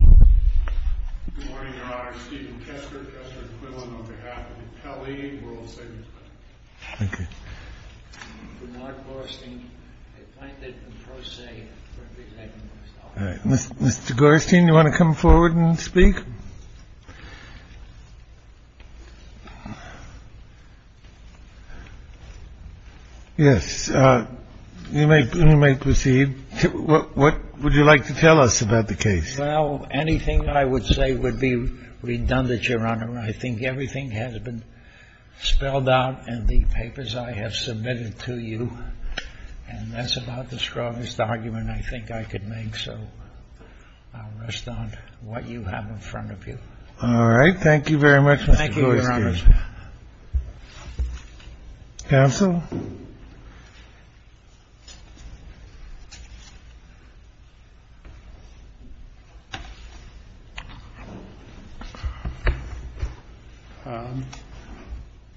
GORSTEIN v. WORLD SAVINGS BANK Well, anything I would say would be redundant, Your Honor. I think everything has been spelled out in the papers I have submitted to you. And that's about the strongest argument I think I could make. So I'll rest on what you have in front of you. All right. Thank you very much, Mr. Gorstein. Thank you, Your Honor. Counsel?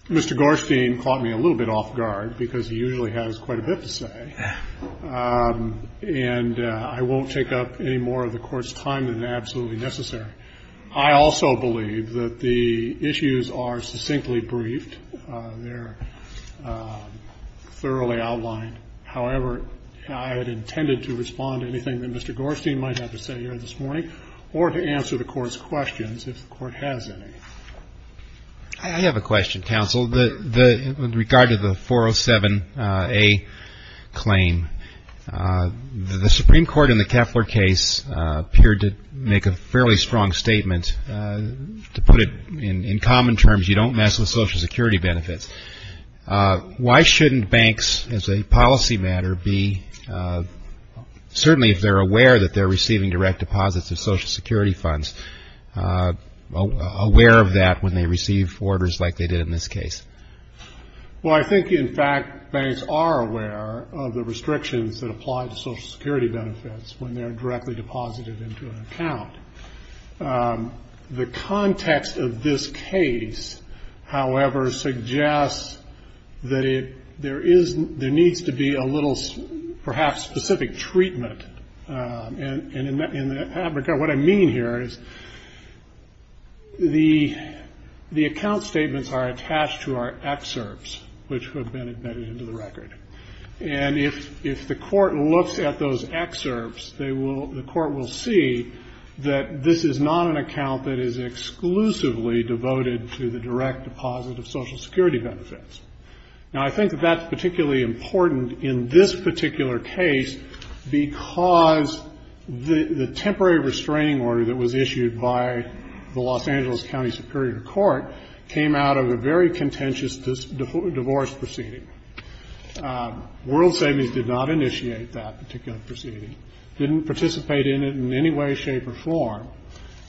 Mr. Gorstein caught me a little bit off guard because he usually has quite a bit to say. And I won't take up any more of the Court's time than is absolutely necessary. I also believe that the issues are succinctly briefed. They're thoroughly outlined. However, I had intended to respond to anything that Mr. Gorstein might have to say here this morning or to answer the Court's questions, if the Court has any. I have a question, Counsel, with regard to the 407A claim. The Supreme Court in the Keffler case appeared to make a fairly strong statement. To put it in common terms, you don't mess with Social Security benefits. Why shouldn't banks, as a policy matter, be certainly, if they're aware that they're receiving direct deposits of Social Security funds, aware of that when they receive orders like they did in this case? Well, I think, in fact, banks are aware of the restrictions that apply to Social Security benefits when they're directly deposited into an account. The context of this case, however, suggests that there needs to be a little, perhaps, specific treatment. And in that regard, what I mean here is the account statements are attached to our excerpts, which have been embedded into the record. And if the Court looks at those excerpts, the Court will see that this is not an account that is exclusively devoted to the direct deposit of Social Security benefits. Now, I think that that's particularly important in this particular case because the temporary restraining order that was issued by the Los Angeles County Superior Court came out of a very contentious divorce proceeding. World Savings did not initiate that particular proceeding, didn't participate in it in any way, shape, or form,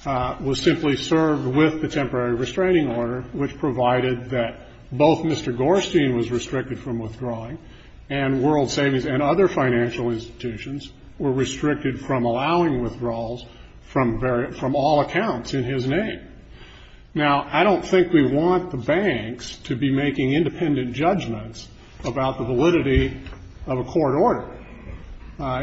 was simply served with the temporary restraining order, which provided that both Mr. Gorstein was restricted from withdrawing and World Savings and other financial institutions were restricted from allowing withdrawals from all accounts in his name. Now, I don't think we want the banks to be making independent judgments about the validity of a court order.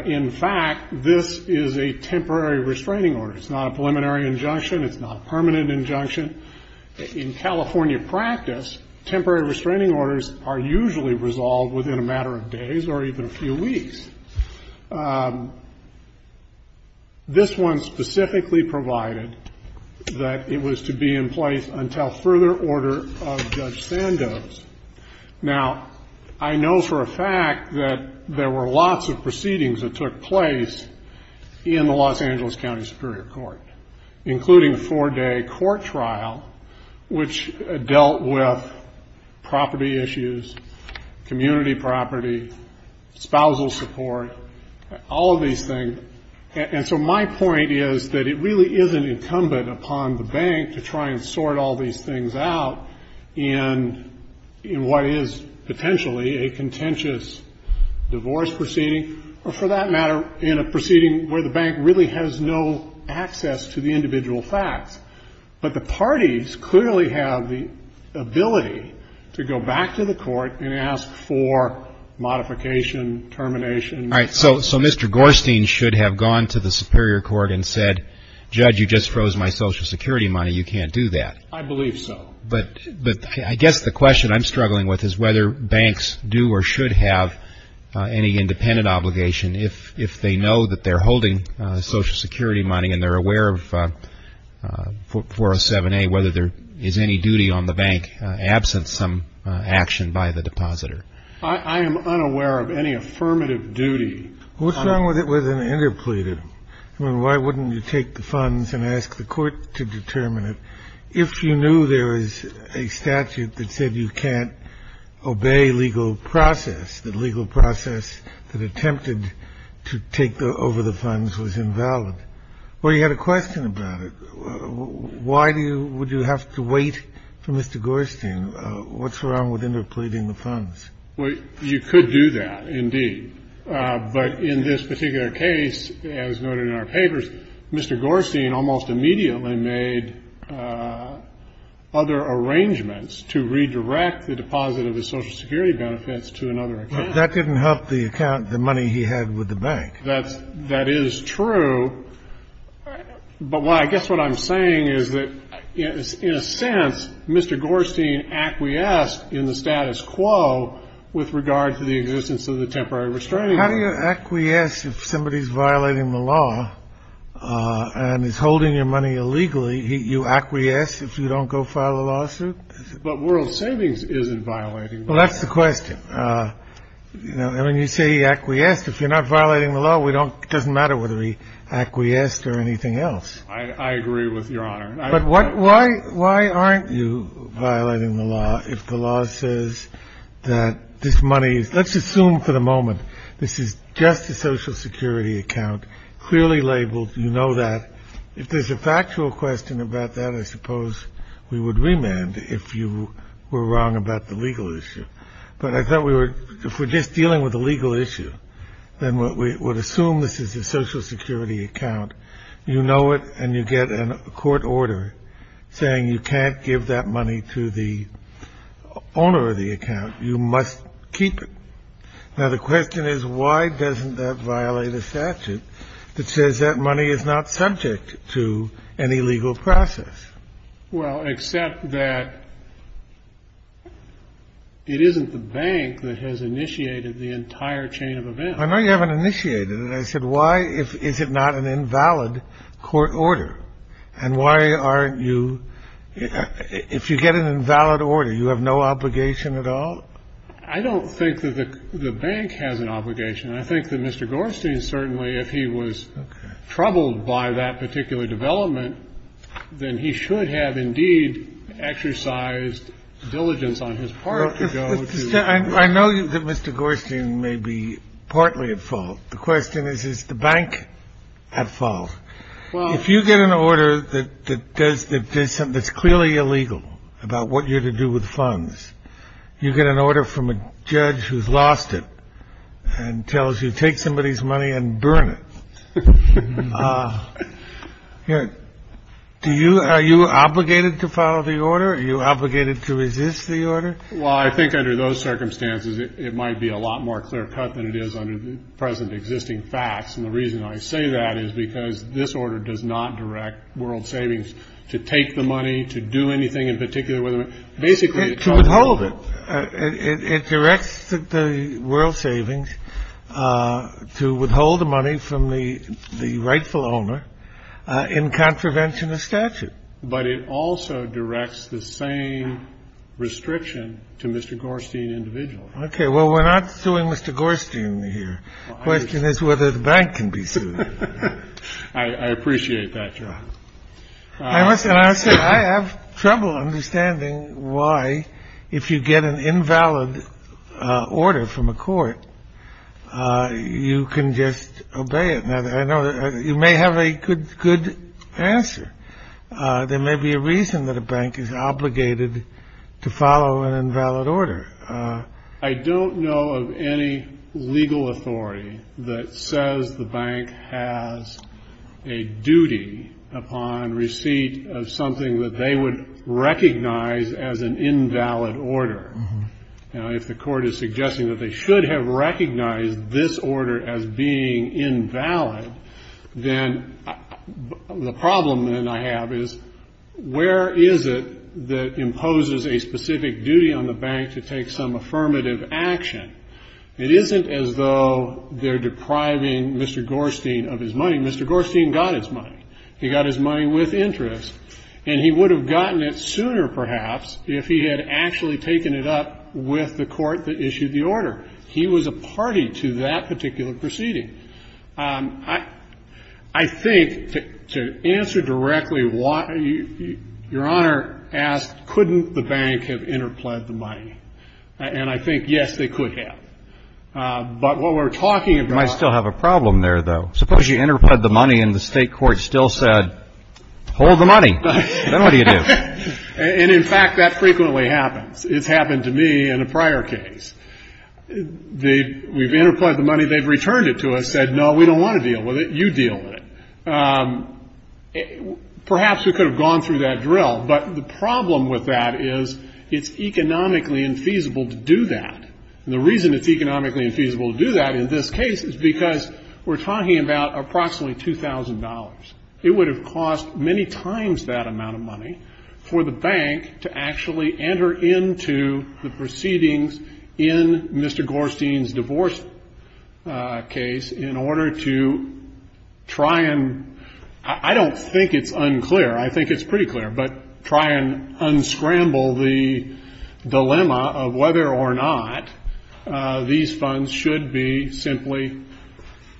In fact, this is a temporary restraining order. It's not a preliminary injunction. It's not a permanent injunction. In California practice, temporary restraining orders are usually resolved within a matter of days or even a few weeks. This one specifically provided that it was to be in place until further order of Judge Sandoz. Now, I know for a fact that there were lots of proceedings that took place in the Los Angeles County Superior Court, including a four-day court trial, which dealt with property issues, community property, spousal support, all of these things. And so my point is that it really isn't incumbent upon the bank to try and sort all these things out in what is potentially a contentious divorce proceeding or, for that matter, in a proceeding where the bank really has no access to the individual facts. But the parties clearly have the ability to go back to the court and ask for modification, termination. All right. So Mr. Gorstein should have gone to the Superior Court and said, Judge, you just froze my Social Security money. You can't do that. I believe so. But I guess the question I'm struggling with is whether banks do or should have any independent obligation if they know that they're holding Social Security money and they're aware of 407A, whether there is any duty on the bank absent some action by the depositor. I am unaware of any affirmative duty. What's wrong with it with an interpleader? I mean, why wouldn't you take the funds and ask the court to determine it? If you knew there is a statute that said you can't obey legal process, that legal process that attempted to take over the funds was invalid, well, you had a question about it. Why do you would you have to wait for Mr. Gorstein? What's wrong with interpleading the funds? Well, you could do that, indeed. But in this particular case, as noted in our papers, Mr. Gorstein almost immediately made other arrangements to redirect the deposit of his Social Security benefits to another account. But that didn't help the account, the money he had with the bank. That is true. But I guess what I'm saying is that, in a sense, Mr. Gorstein acquiesced in the status quo with regard to the existence of the temporary restraining order. How do you acquiesce if somebody is violating the law and is holding your money illegally? You acquiesce if you don't go file a lawsuit? But World Savings isn't violating the law. Well, that's the question. I mean, you say he acquiesced. If you're not violating the law, it doesn't matter whether he acquiesced or anything else. I agree with Your Honor. But why aren't you violating the law if the law says that this money is — let's assume for the moment this is just a Social Security account, clearly labeled, you know that. If there's a factual question about that, I suppose we would remand if you were wrong about the legal issue. But I thought we were — if we're just dealing with a legal issue, then we would assume this is a Social Security account. You know it, and you get a court order saying you can't give that money to the owner of the account. You must keep it. Now, the question is, why doesn't that violate a statute that says that money is not subject to any legal process? Well, except that it isn't the bank that has initiated the entire chain of events. I know you haven't initiated it. I said, why is it not an invalid court order? And why aren't you — if you get an invalid order, you have no obligation at all? I don't think that the bank has an obligation. I think that Mr. Gorstein certainly, if he was troubled by that particular development, then he should have indeed exercised diligence on his part to go to — I know that Mr. Gorstein may be partly at fault. The question is, is the bank at fault? If you get an order that does — that's clearly illegal about what you're to do with funds, you get an order from a judge who's lost it and tells you take somebody's money and burn it. Do you — are you obligated to follow the order? Are you obligated to resist the order? Well, I think under those circumstances, it might be a lot more clear-cut than it is under the present existing facts. And the reason I say that is because this order does not direct World Savings to take the money, to do anything in particular with it. Basically, it tells you — To withhold it. It directs the World Savings to withhold the money from the rightful owner in contravention of statute. But it also directs the same restriction to Mr. Gorstein individually. Okay. Well, we're not suing Mr. Gorstein here. The question is whether the bank can be sued. I appreciate that, Your Honor. I have trouble understanding why, if you get an invalid order from a court, you can just obey it. You may have a good answer. There may be a reason that a bank is obligated to follow an invalid order. I don't know of any legal authority that says the bank has a duty upon receipt of something that they would recognize as an invalid order. Now, if the court is suggesting that they should have recognized this order as being invalid, then the problem then I have is, where is it that imposes a specific duty on the bank to take some affirmative action? It isn't as though they're depriving Mr. Gorstein of his money. Mr. Gorstein got his money. He got his money with interest. And he would have gotten it sooner, perhaps, if he had actually taken it up with the court that issued the order. He was a party to that particular proceeding. I think, to answer directly, Your Honor asked, couldn't the bank have interpled the money? And I think, yes, they could have. But what we're talking about — You might still have a problem there, though. Suppose you interpled the money and the state court still said, hold the money. Then what do you do? And, in fact, that frequently happens. It's happened to me in a prior case. We've interpled the money. They've returned it to us, said, no, we don't want to deal with it. You deal with it. Perhaps we could have gone through that drill. But the problem with that is it's economically infeasible to do that. And the reason it's economically infeasible to do that in this case is because we're talking about approximately $2,000. It would have cost many times that amount of money for the bank to actually enter into the proceedings in Mr. Gorstein's divorce case in order to try and — I don't think it's unclear. I think it's pretty clear. But try and unscramble the dilemma of whether or not these funds should be simply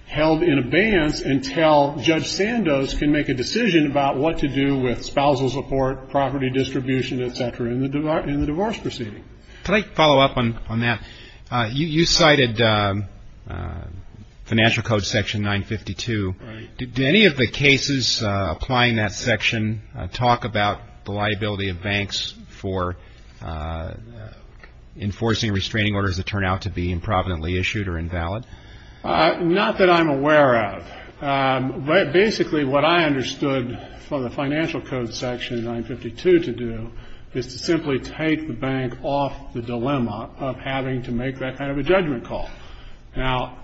held in abeyance until Judge Sandoz can make a decision about what to do with spousal support, property distribution, et cetera, in the divorce proceeding. Can I follow up on that? You cited Financial Code Section 952. Did any of the cases applying that section talk about the liability of banks for enforcing restraining orders that turn out to be improvidently issued or invalid? Not that I'm aware of. But basically what I understood from the Financial Code Section 952 to do is to simply take the bank off the dilemma of having to make that kind of a judgment call. Now,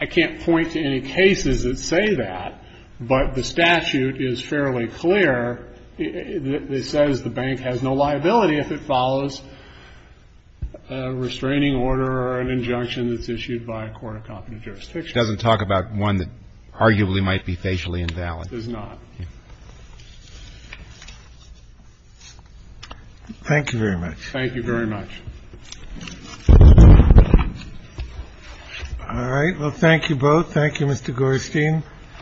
I can't point to any cases that say that, but the statute is fairly clear. It says the bank has no liability if it follows a restraining order or an injunction that's issued by a court of competent jurisdiction. It doesn't talk about one that arguably might be facially invalid. It does not. Thank you very much. Thank you very much. All right. Well, thank you both. Thank you, Mr. Gorestein.